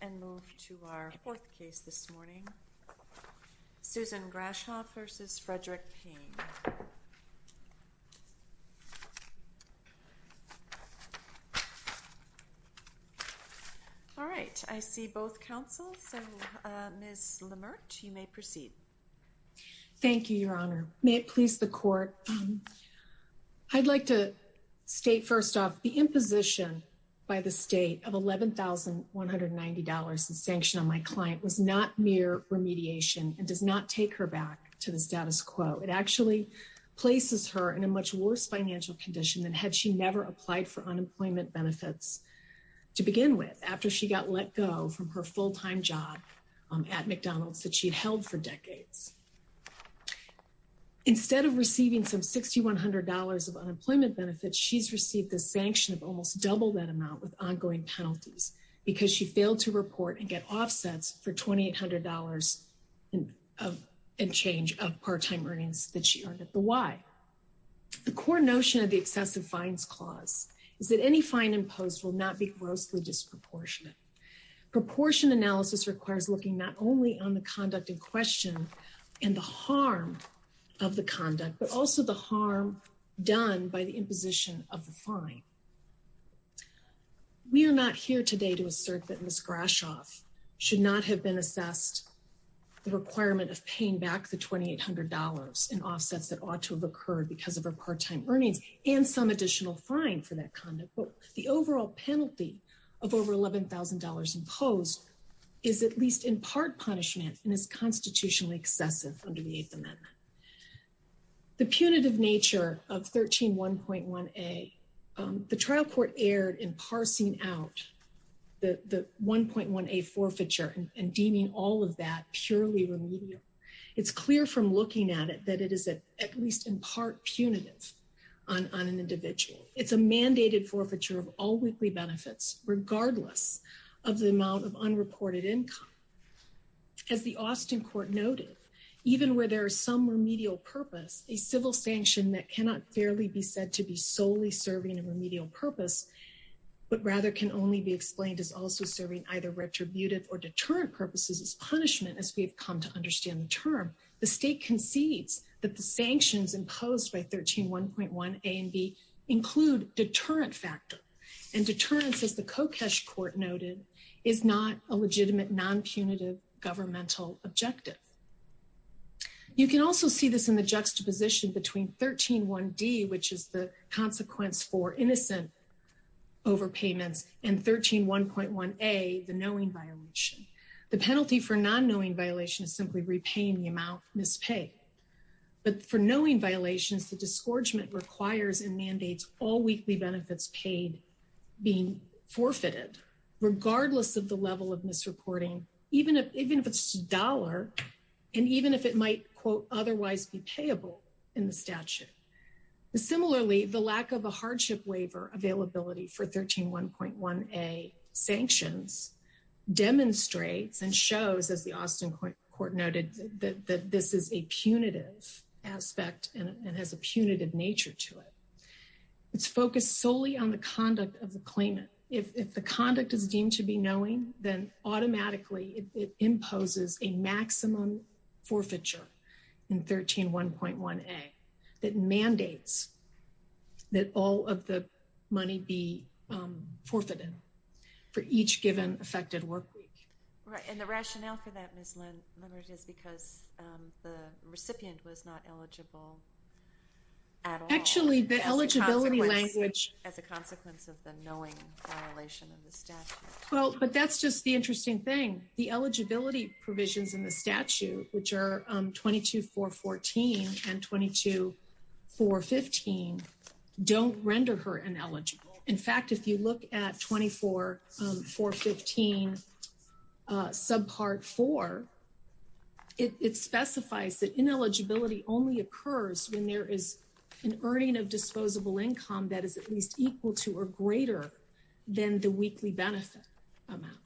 All right, I see both counsels, so Ms. Lamert, you may proceed. Thank you, Your Honor. May it please the Court, I'd like to state first off the imposition by the state of $11,190 in sanction on my client was not mere remediation and does not take her back to the status quo. It actually places her in a much worse financial condition than had she never applied for unemployment benefits to begin with, after she got let go from her full-time job at McDonald's that she'd held for decades. Instead of receiving some $6,100 of unemployment benefits, she's received the sanction of almost double that amount with ongoing penalties because she failed to report and get offsets for $2,800 in change of part-time earnings that she earned at the Y. The core notion of the excessive fines clause is that any fine imposed will not be grossly disproportionate. Proportion analysis requires looking not only on the conduct in question and the harm of the imposition of the fine. We are not here today to assert that Ms. Grashoff should not have been assessed the requirement of paying back the $2,800 in offsets that ought to have occurred because of her part-time earnings and some additional fine for that conduct. The overall penalty of over $11,000 imposed is at least in part punishment and is constitutionally excessive under the Eighth Amendment. The punitive nature of 131.1a, the trial court erred in parsing out the 1.1a forfeiture and deeming all of that purely remedial. It's clear from looking at it that it is at least in part punitive on an individual. It's a mandated forfeiture of all weekly benefits regardless of the amount of unreported income. As the Austin court noted, even where there is some remedial purpose, a civil sanction that cannot fairly be said to be solely serving a remedial purpose, but rather can only be explained as also serving either retributive or deterrent purposes is punishment as we have come to understand the term. The state concedes that the sanctions imposed by 131.1a and b include deterrent factor. And deterrence, as the Kokesh court noted, is not a legitimate non-punitive governmental objective. You can also see this in the juxtaposition between 131d, which is the consequence for innocent overpayments, and 131.1a, the knowing violation. The penalty for non-knowing violation is simply repaying the amount mispaid. But for knowing violations, the disgorgement requires and mandates all weekly benefits paid being forfeited regardless of the level of misreporting, even if it's a dollar, and even if it might, quote, otherwise be payable in the statute. Similarly, the lack of a hardship waiver availability for 131.1a sanctions demonstrates and has a punitive aspect and has a punitive nature to it. It's focused solely on the conduct of the claimant. If the conduct is deemed to be knowing, then automatically it imposes a maximum forfeiture in 131.1a that mandates that all of the money be forfeited for each given affected workweek. Right, and the rationale for that, Ms. Leonard, is because the recipient was not eligible at all. Actually, the eligibility language... As a consequence of the knowing violation of the statute. Well, but that's just the interesting thing. The eligibility provisions in the statute, which are 22.414 and 22.415, don't render her ineligible. In fact, if you look at 24.415 subpart 4, it specifies that ineligibility only occurs when there is an earning of disposable income that is at least equal to or greater than the weekly benefit amount.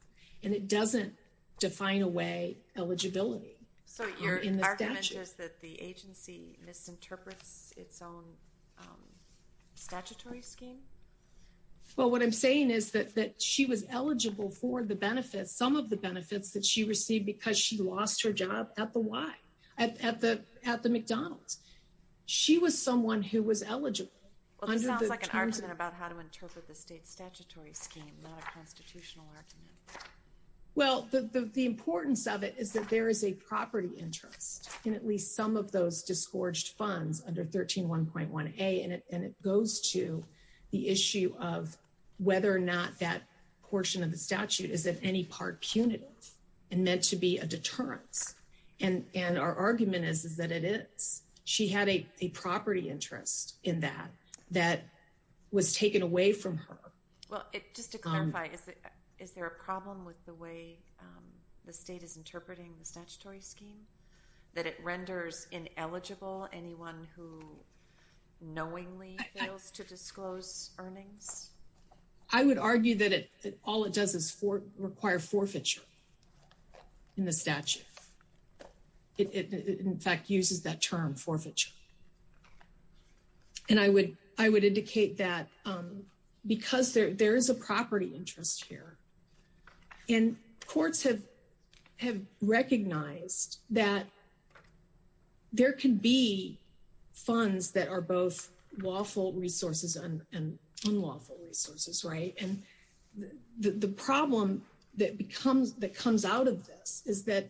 And it doesn't define away eligibility. So your argument is that the agency misinterprets its own statutory scheme? Well, what I'm saying is that she was eligible for the benefits, some of the benefits that she received because she lost her job at the McDonald's. She was someone who was eligible. Well, this sounds like an argument about how to interpret the state statutory scheme, not a constitutional argument. Well, the importance of it is that there is a property interest in at least some of those of whether or not that portion of the statute is at any part punitive and meant to be a deterrence. And our argument is that it is. She had a property interest in that that was taken away from her. Well, just to clarify, is there a problem with the way the state is interpreting the statutory scheme that it renders ineligible anyone who knowingly fails to disclose earnings? I would argue that all it does is require forfeiture in the statute. It, in fact, uses that term forfeiture. And I would I would indicate that because there is a property interest here and courts have have recognized that. There can be funds that are both lawful resources and unlawful resources, right? And the problem that becomes that comes out of this is that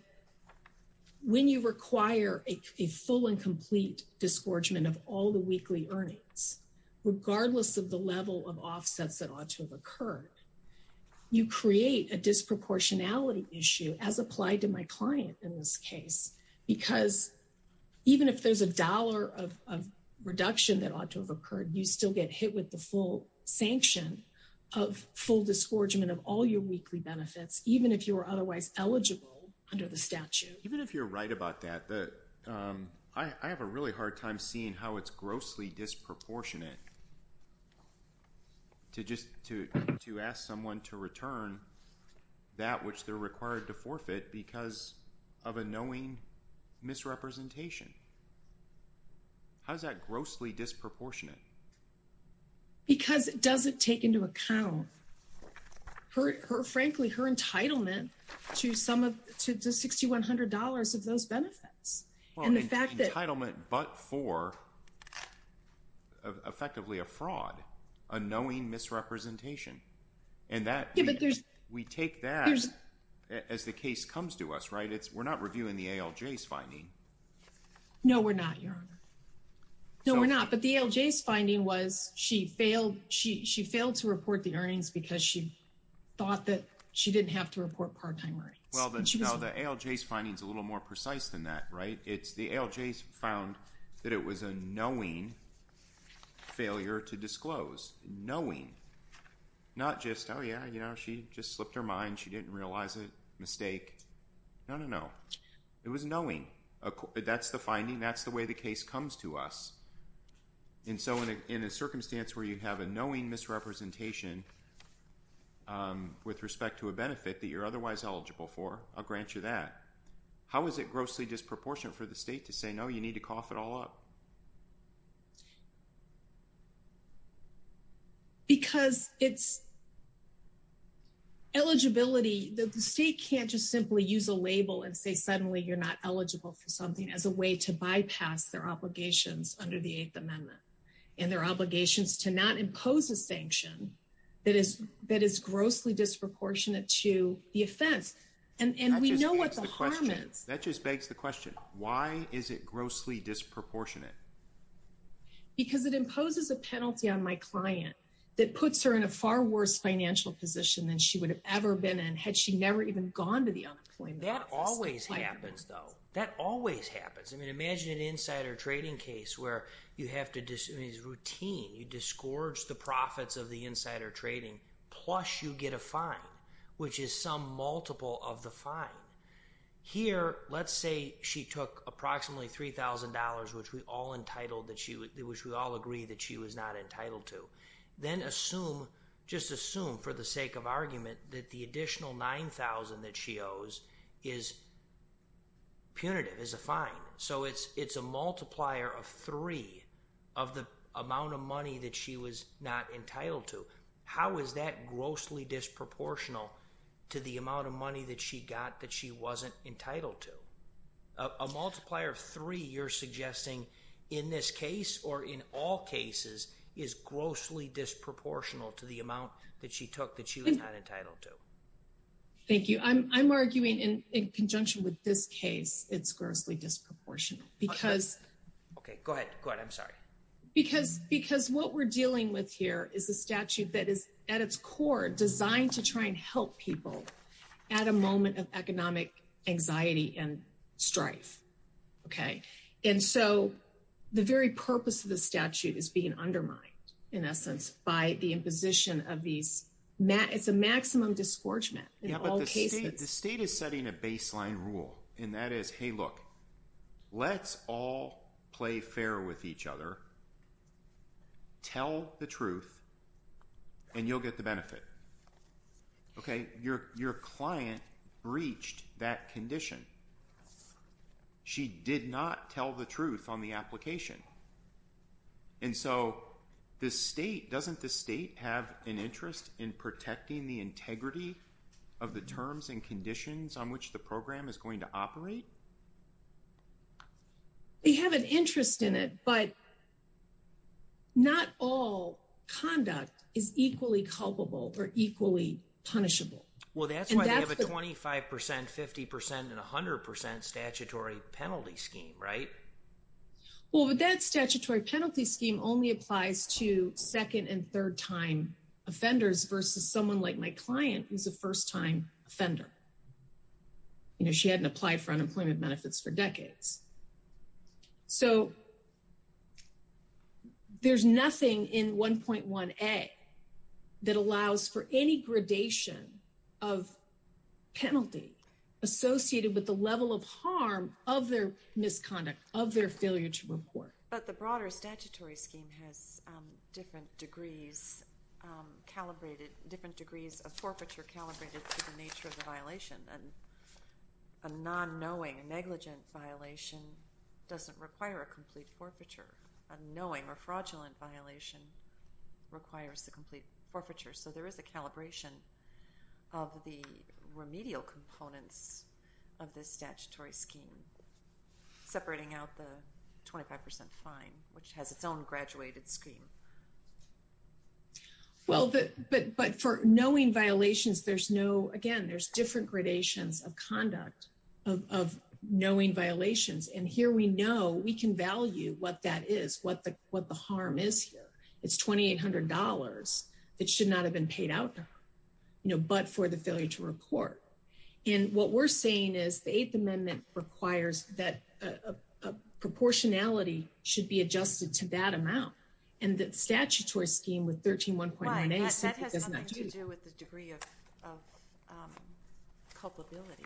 when you require a full and complete disgorgement of all the weekly earnings, regardless of the level of offsets that ought to have occurred, you create a disproportionality issue as applied to my client in this case, because even if there's a dollar of reduction that ought to have occurred, you still get hit with the full sanction of full disgorgement of all your weekly benefits, even if you are otherwise eligible under the statute. Even if you're right about that, that I have a really hard time seeing how it's grossly disproportionate to just to to ask someone to return that which they're required to forfeit because of a knowing misrepresentation. How is that grossly disproportionate? Because it doesn't take into account her frankly her entitlement to some of the $6,100 of those benefits, and the fact that. Entitlement but for effectively a fraud, a knowing misrepresentation, and that we take that as the case comes to us, right? It's we're not reviewing the ALJ's finding. No, we're not, Your Honor. No, we're not, but the ALJ's finding was she failed to report the earnings because she thought that she didn't have to report part-time earnings. No, the ALJ's finding is a little more precise than that, right? It's the ALJ's found that it was a knowing failure to disclose. Knowing. Not just, oh yeah, you know, she just slipped her mind. She didn't realize a mistake. No, no, no. It was knowing. That's the finding. That's the way the case comes to us. And so in a circumstance where you have a knowing misrepresentation with respect to a benefit that you're otherwise eligible for, I'll grant you that. How is it grossly disproportionate for the state to say, no, you need to cough it all up? Because it's eligibility that the state can't just simply use a label and say suddenly you're not eligible for something as a way to bypass their obligations under the Eighth Amendment and their obligations to not impose a sanction that is grossly disproportionate to the offense. And we know what the harm is. That just begs the question. Why is it grossly disproportionate? Because it imposes a penalty on my client that puts her in a far worse financial position than she would have ever been in had she never even gone to the unemployment office. That always happens, though. That always happens. Imagine an insider trading case where it's routine. You disgorge the profits of the insider trading plus you get a fine, which is some multiple of the fine. Here, let's say she took approximately $3,000, which we all agree that she was not entitled to. Then just assume for the sake of argument that the additional $9,000 that she owes is punitive, is a fine. It's a multiplier of three of the amount of money that she was not entitled to. How is that grossly disproportional to the amount of money that she got that she wasn't entitled to? A multiplier of three, you're suggesting in this case or in all cases is grossly disproportional to the amount that she took that she was not entitled to. Thank you. I'm arguing in conjunction with this case, it's grossly disproportional because what we're dealing with here is a statute that is, at its core, designed to try and help people at a moment of economic anxiety and strife. The very purpose of the statute is being undermined, in essence, by the imposition of it's a maximum disgorgement in all cases. The state is setting a baseline rule, and that is, hey, look, let's all play fair with each other, tell the truth, and you'll get the benefit. Your client breached that condition. She did not tell the truth on the application. And so the state, doesn't the state have an interest in protecting the integrity of the terms and conditions on which the program is going to operate? They have an interest in it, but not all conduct is equally culpable or equally punishable. Well, that's why they have a 25%, 50%, and 100% statutory penalty scheme, right? Well, but that statutory penalty scheme only applies to second- and third-time offenders versus someone like my client, who's a first-time offender. You know, she hadn't applied for unemployment benefits for decades. So there's nothing in 1.1a that allows for any gradation of penalty associated with the failure to report. But the broader statutory scheme has different degrees calibrated, different degrees of forfeiture calibrated to the nature of the violation. And a non-knowing, negligent violation doesn't require a complete forfeiture. A knowing or fraudulent violation requires a complete forfeiture. So there is a calibration of the remedial components of this statutory scheme, separating out the 25% fine, which has its own graduated scheme. Well, but for knowing violations, there's no, again, there's different gradations of conduct of knowing violations. And here we know we can value what that is, what the harm is here. It's $2,800 that should not have been paid out, you know, but for the failure to report. And what we're saying is the Eighth Amendment requires that a proportionality should be adjusted to that amount. And the statutory scheme with 13.1.1a simply does not do that. Right, that has nothing to do with the degree of culpability.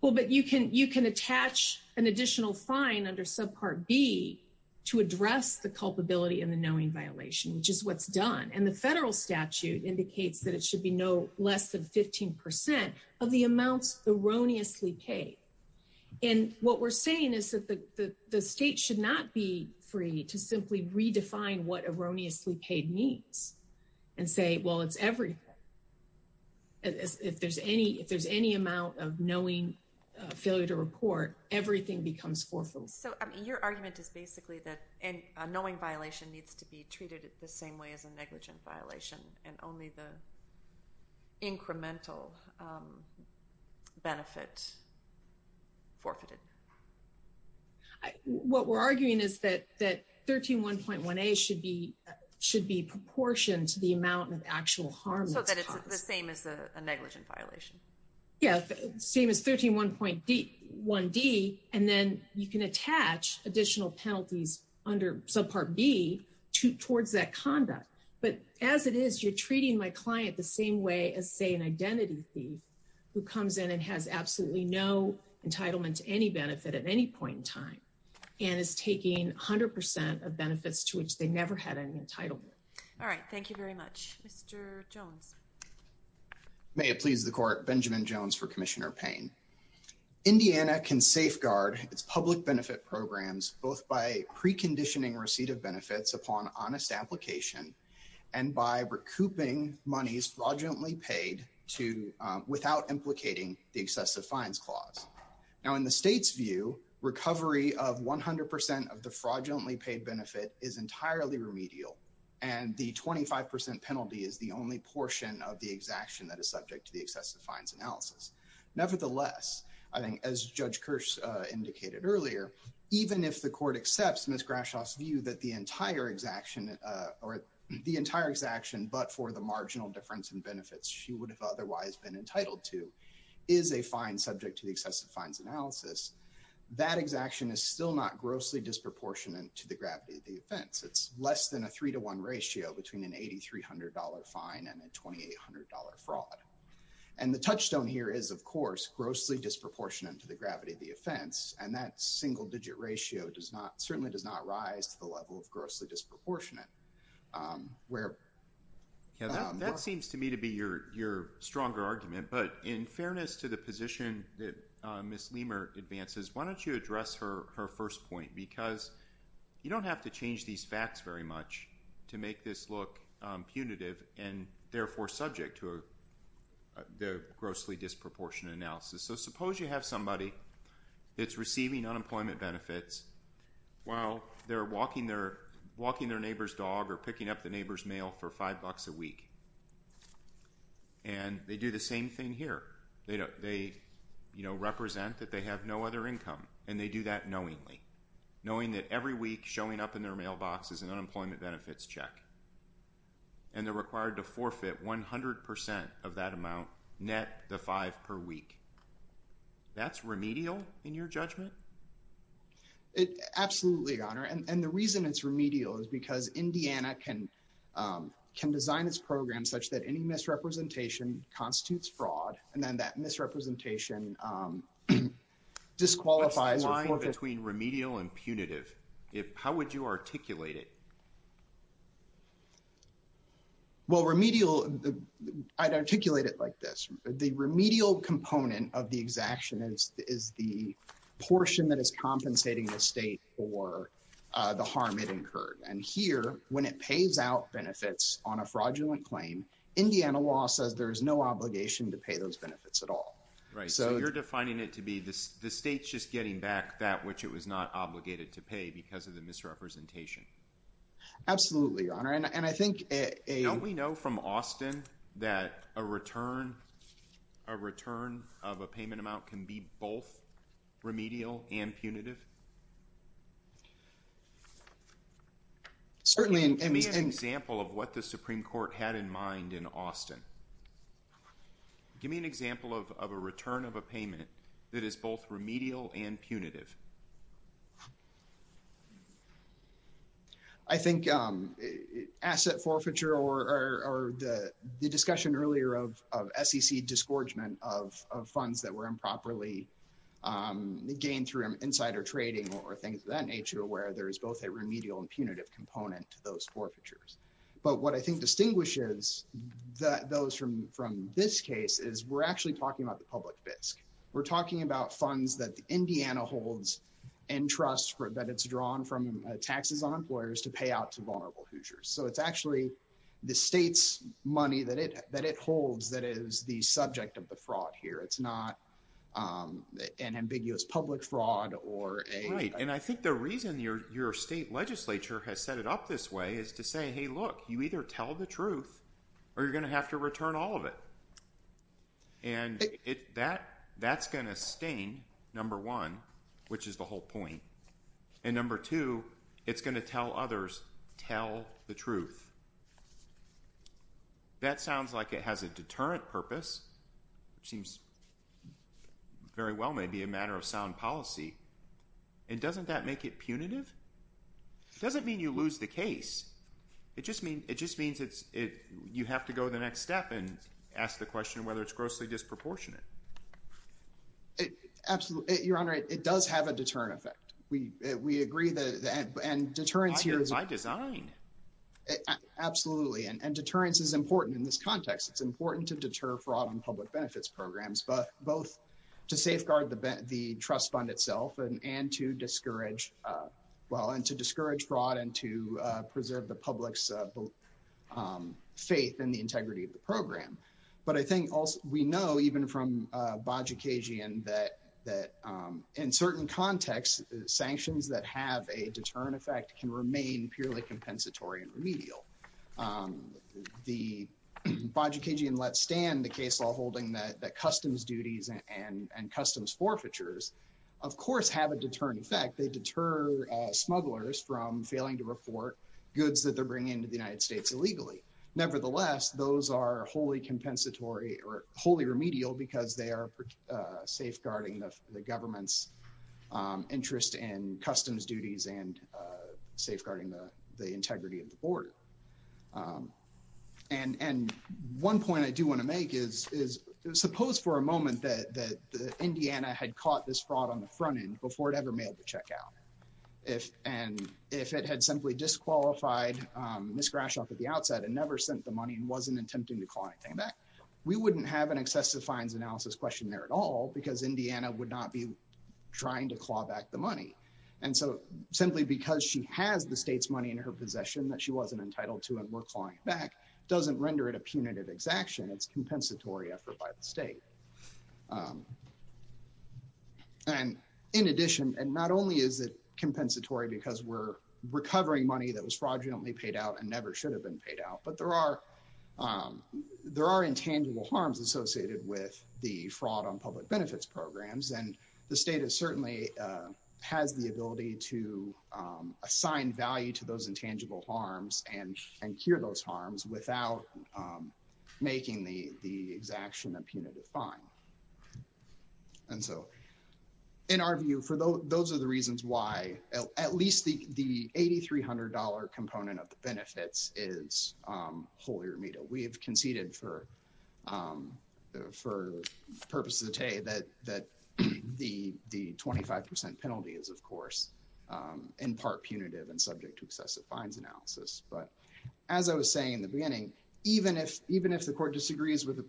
Well, but you can attach an additional fine under subpart B to address the culpability and the knowing violation, which is what's done. And the federal statute indicates that it should be no less than 15% of the amounts erroneously paid. And what we're saying is that the state should not be free to simply redefine what erroneously paid means and say, well, it's everything. If there's any, if there's any amount of knowing failure to report, everything becomes forfeitable. So your argument is basically that a knowing violation needs to be treated the same way as a negligent violation and only the incremental benefit forfeited. What we're arguing is that that 13.1.1a should be, should be proportioned to the amount of actual harm. So that it's the same as a negligent violation. Yeah, same as 13.1.1d, and then you can attach additional penalties under subpart B towards that conduct. But as it is, you're treating my client the same way as, say, an identity thief who comes in and has absolutely no entitlement to any benefit at any point in time and is taking 100% of benefits to which they never had any entitlement. All right. Thank you very much. Mr. Jones. May it please the court. Benjamin Jones for Commissioner Payne. Indiana can safeguard its public benefit programs, both by preconditioning receipt of benefits upon honest application and by recouping monies fraudulently paid to, without implicating the excessive fines clause. Now in the state's view, recovery of 100% of the fraudulently paid benefit is entirely remedial. And the 25% penalty is the only portion of the exaction that is subject to the excessive fines analysis. Nevertheless, I think as Judge Kirsch indicated earlier, even if the court accepts Ms. Grashoff's view that the entire exaction but for the marginal difference in benefits she would have otherwise been entitled to is a fine subject to the excessive fines analysis, that exaction is still not grossly disproportionate to the gravity of the offense. It's less than a three to one ratio between an $8,300 fine and a $2,800 fraud. And the touchstone here is, of course, grossly disproportionate to the gravity of the offense. And that single digit ratio certainly does not rise to the level of grossly disproportionate. That seems to me to be your stronger argument. But in fairness to the position that Ms. Leamer advances, why don't you address her first point? Because you don't have to change these facts very much to make this look punitive and therefore subject to the grossly disproportionate analysis. So suppose you have somebody that's receiving unemployment benefits while they're walking their neighbor's dog or picking up the neighbor's mail for five bucks a week. And they do the same thing here. They represent that they have no other income. And they do that knowingly, knowing that every week showing up in their mailbox is an unemployment benefits check. And they're required to forfeit 100% of that amount, net the five per week. That's remedial in your judgment? Absolutely, Your Honor. And the reason it's remedial is because Indiana can design its program such that any misrepresentation constitutes fraud. And then that misrepresentation disqualifies or forfeits. What's the line between remedial and punitive? How would you articulate it? Well, remedial, I'd articulate it like this. The remedial component of the exaction is the portion that is compensating the state for the harm it incurred. And here, when it pays out benefits on a fraudulent claim, Indiana law says there is no obligation to pay those benefits at all. Right. So you're defining it to be the state's just getting back that which it was not obligated Absolutely, Your Honor. Don't we know from Austin that a return of a payment amount can be both remedial and punitive? Certainly. Give me an example of what the Supreme Court had in mind in Austin. Give me an example of a return of a payment that is both remedial and punitive. I think asset forfeiture or the discussion earlier of SEC disgorgement of funds that were improperly gained through insider trading or things of that nature, where there is both a remedial and punitive component to those forfeitures. But what I think distinguishes those from this case is we're actually talking about the public fisc. We're talking about funds that Indiana holds and trust that it's drawn from taxes on employers to pay out to vulnerable Hoosiers. So it's actually the state's money that it holds that is the subject of the fraud here. It's not an ambiguous public fraud or a... Right. And I think the reason your state legislature has set it up this way is to say, hey, look, you either tell the truth or you're going to have to return all of it. And that's going to stain, number one, which is the whole point. And number two, it's going to tell others, tell the truth. That sounds like it has a deterrent purpose, which seems very well maybe a matter of sound policy. And doesn't that make it punitive? It doesn't mean you lose the case. It just means you have to go the next step and ask the question whether it's grossly disproportionate. Absolutely. Your Honor, it does have a deterrent effect. We agree that and deterrence here is... By design. Absolutely. And deterrence is important in this context. It's important to deter fraud on public benefits programs, but both to safeguard the trust itself and to discourage, well, and to discourage fraud and to preserve the public's faith in the integrity of the program. But I think we know even from Bajikagian that in certain contexts, sanctions that have a deterrent effect can remain purely compensatory and remedial. The Bajikagian let stand the case law holding that customs duties and customs forfeitures of course have a deterrent effect. They deter smugglers from failing to report goods that they're bringing into the United States illegally. Nevertheless, those are wholly compensatory or wholly remedial because they are safeguarding the government's interest in customs duties and safeguarding the integrity of the border. And one point I do want to make is suppose for a moment that Indiana had caught this front end before it ever mailed the check out. And if it had simply disqualified Ms. Grashof at the outset and never sent the money and wasn't attempting to claw anything back, we wouldn't have an excessive fines analysis question there at all because Indiana would not be trying to claw back the money. And so simply because she has the state's money in her possession that she wasn't entitled to and we're clawing it back doesn't render it a punitive exaction. It's compensatory effort by the state. And in addition, and not only is it compensatory because we're recovering money that was fraudulently paid out and never should have been paid out, but there are intangible harms associated with the fraud on public benefits programs. And the state certainly has the ability to assign value to those intangible harms and secure those harms without making the exaction a punitive fine. And so in our view, those are the reasons why at least the $8,300 component of the benefits is wholly remittal. We have conceded for purposes of the day that the 25% penalty is of course in part punitive and subject to excessive fines analysis. But as I was saying in the beginning, even if the court disagrees with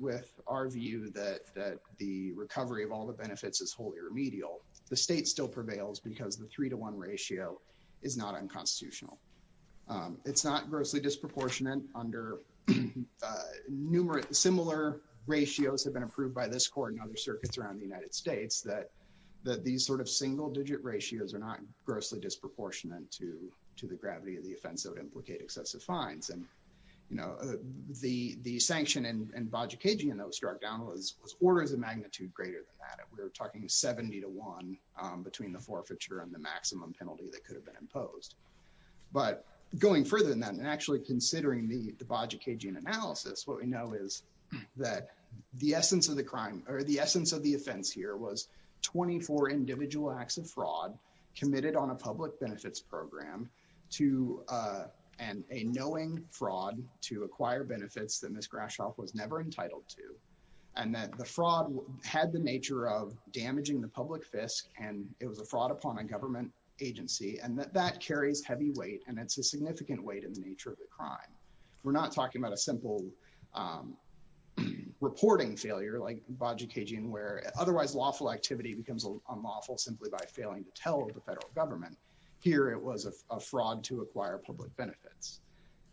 our view that the recovery of all the benefits is wholly remedial, the state still prevails because the three to one ratio is not unconstitutional. It's not grossly disproportionate under similar ratios have been approved by this court and other circuits around the United States that these sort of single digit ratios are not to the gravity of the offense that would implicate excessive fines. And the sanction in Baja Cajun that was struck down was orders of magnitude greater than that. We're talking 70 to one between the forfeiture and the maximum penalty that could have been imposed. But going further than that and actually considering the Baja Cajun analysis, what we know is that the essence of the offense here was 24 individual acts of fraud committed on a public benefits program and a knowing fraud to acquire benefits that Ms. Grashof was never entitled to. And that the fraud had the nature of damaging the public fisc and it was a fraud upon a government agency and that that carries heavy weight and it's a significant weight in the nature of the crime. We're not talking about a simple reporting failure like Baja Cajun where otherwise lawful activity becomes unlawful simply by failing to tell the federal government. Here it was a fraud to acquire public benefits.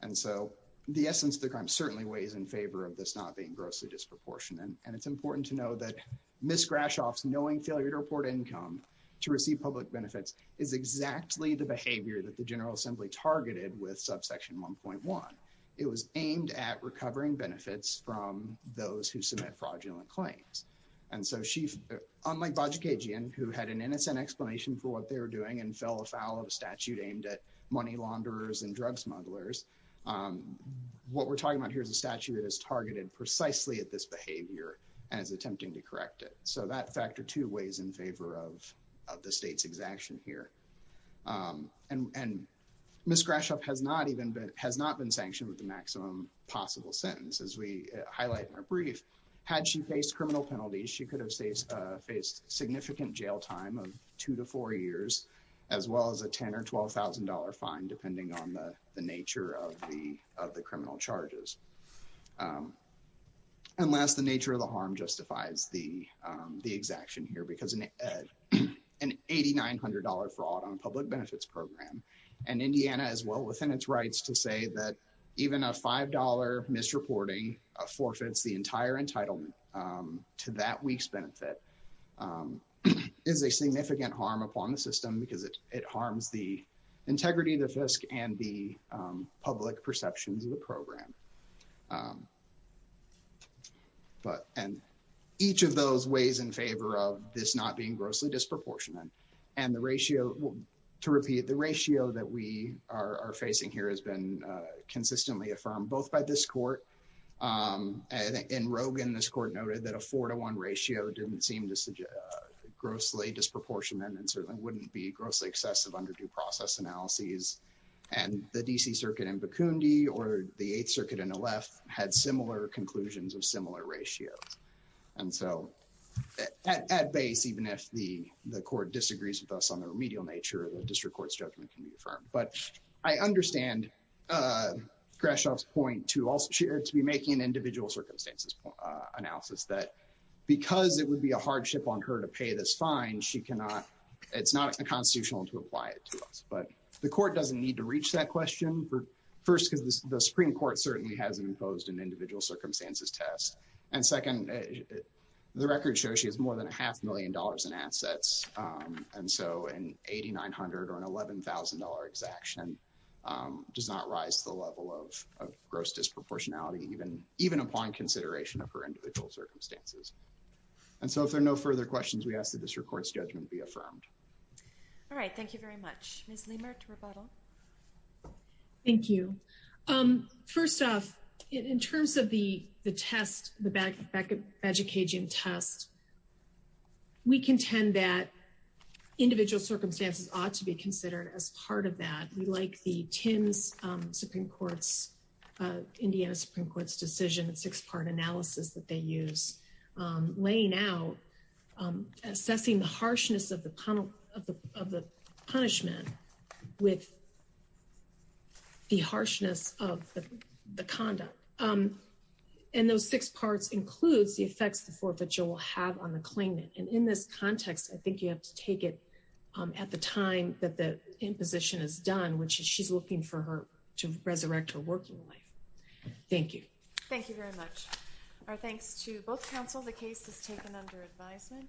And so the essence of the crime certainly weighs in favor of this not being grossly disproportionate and it's important to know that Ms. Grashof's knowing failure to report income to receive public benefits is exactly the behavior that the General Assembly targeted with subsection 1.1. It was aimed at recovering benefits from those who submit fraudulent claims. And so unlike Baja Cajun who had an innocent explanation for what they were doing and fell afoul of a statute aimed at money launderers and drug smugglers, what we're talking about here is a statute that is targeted precisely at this behavior and is attempting to correct it. So that factor too weighs in favor of the state's exaction here. And Ms. Grashof has not been sanctioned with the maximum possible sentence as we highlight in her brief. Had she faced criminal penalties, she could have faced significant jail time of two to four years as well as a $10,000 or $12,000 fine depending on the nature of the criminal charges. And last, the nature of the harm justifies the exaction here because an $8,900 fraud on a public benefits program and Indiana as well within its rights to say that even a $5 misreporting forfeits the entire entitlement to that week's benefit is a significant harm upon the system because it harms the integrity of the FISC and the public perceptions of the program. And each of those weighs in favor of this not being grossly disproportionate. And the ratio, to repeat, the ratio that we are facing here has been consistently affirmed both by this court and Rogan. This court noted that a four to one ratio didn't seem to grossly disproportionate and certainly wouldn't be grossly excessive under due process analyses. And the D.C. Circuit in Bikundi or the Eighth Circuit in Aleph had similar conclusions of similar ratios. And so at base, even if the court disagrees with us on the remedial nature, the district court's judgment can be affirmed. But I understand Grashof's point to also be making an individual circumstances analysis that because it would be a hardship on her to pay this fine, she cannot, it's not a constitutional to apply it to us. But the court doesn't need to reach that question first because the Supreme Court certainly hasn't imposed an individual circumstances test. And second, the record shows she has more than a half million dollars in assets. And so an $8,900 or an $11,000 exaction does not rise to the level of gross disproportionality even upon consideration of her individual circumstances. And so if there are no further questions, we ask that this court's judgment be affirmed. All right. Thank you very much. Ms. Lehmert, rebuttal. Thank you. First off, in terms of the test, the badge of Cajun test, we contend that individual circumstances ought to be considered as part of that. We like the Tim's Supreme Court's, Indiana Supreme Court's decision, six-part analysis that they use, laying out, assessing the harshness of the punishment with the harshness of the conduct. And those six parts includes the effects the forfeiture will have on the claimant. And in this context, I think you have to take it at the time that the imposition is done, which is she's looking for her to resurrect her working life. Thank you. Thank you very much. Our thanks to both counsel. The case is taken under advisement.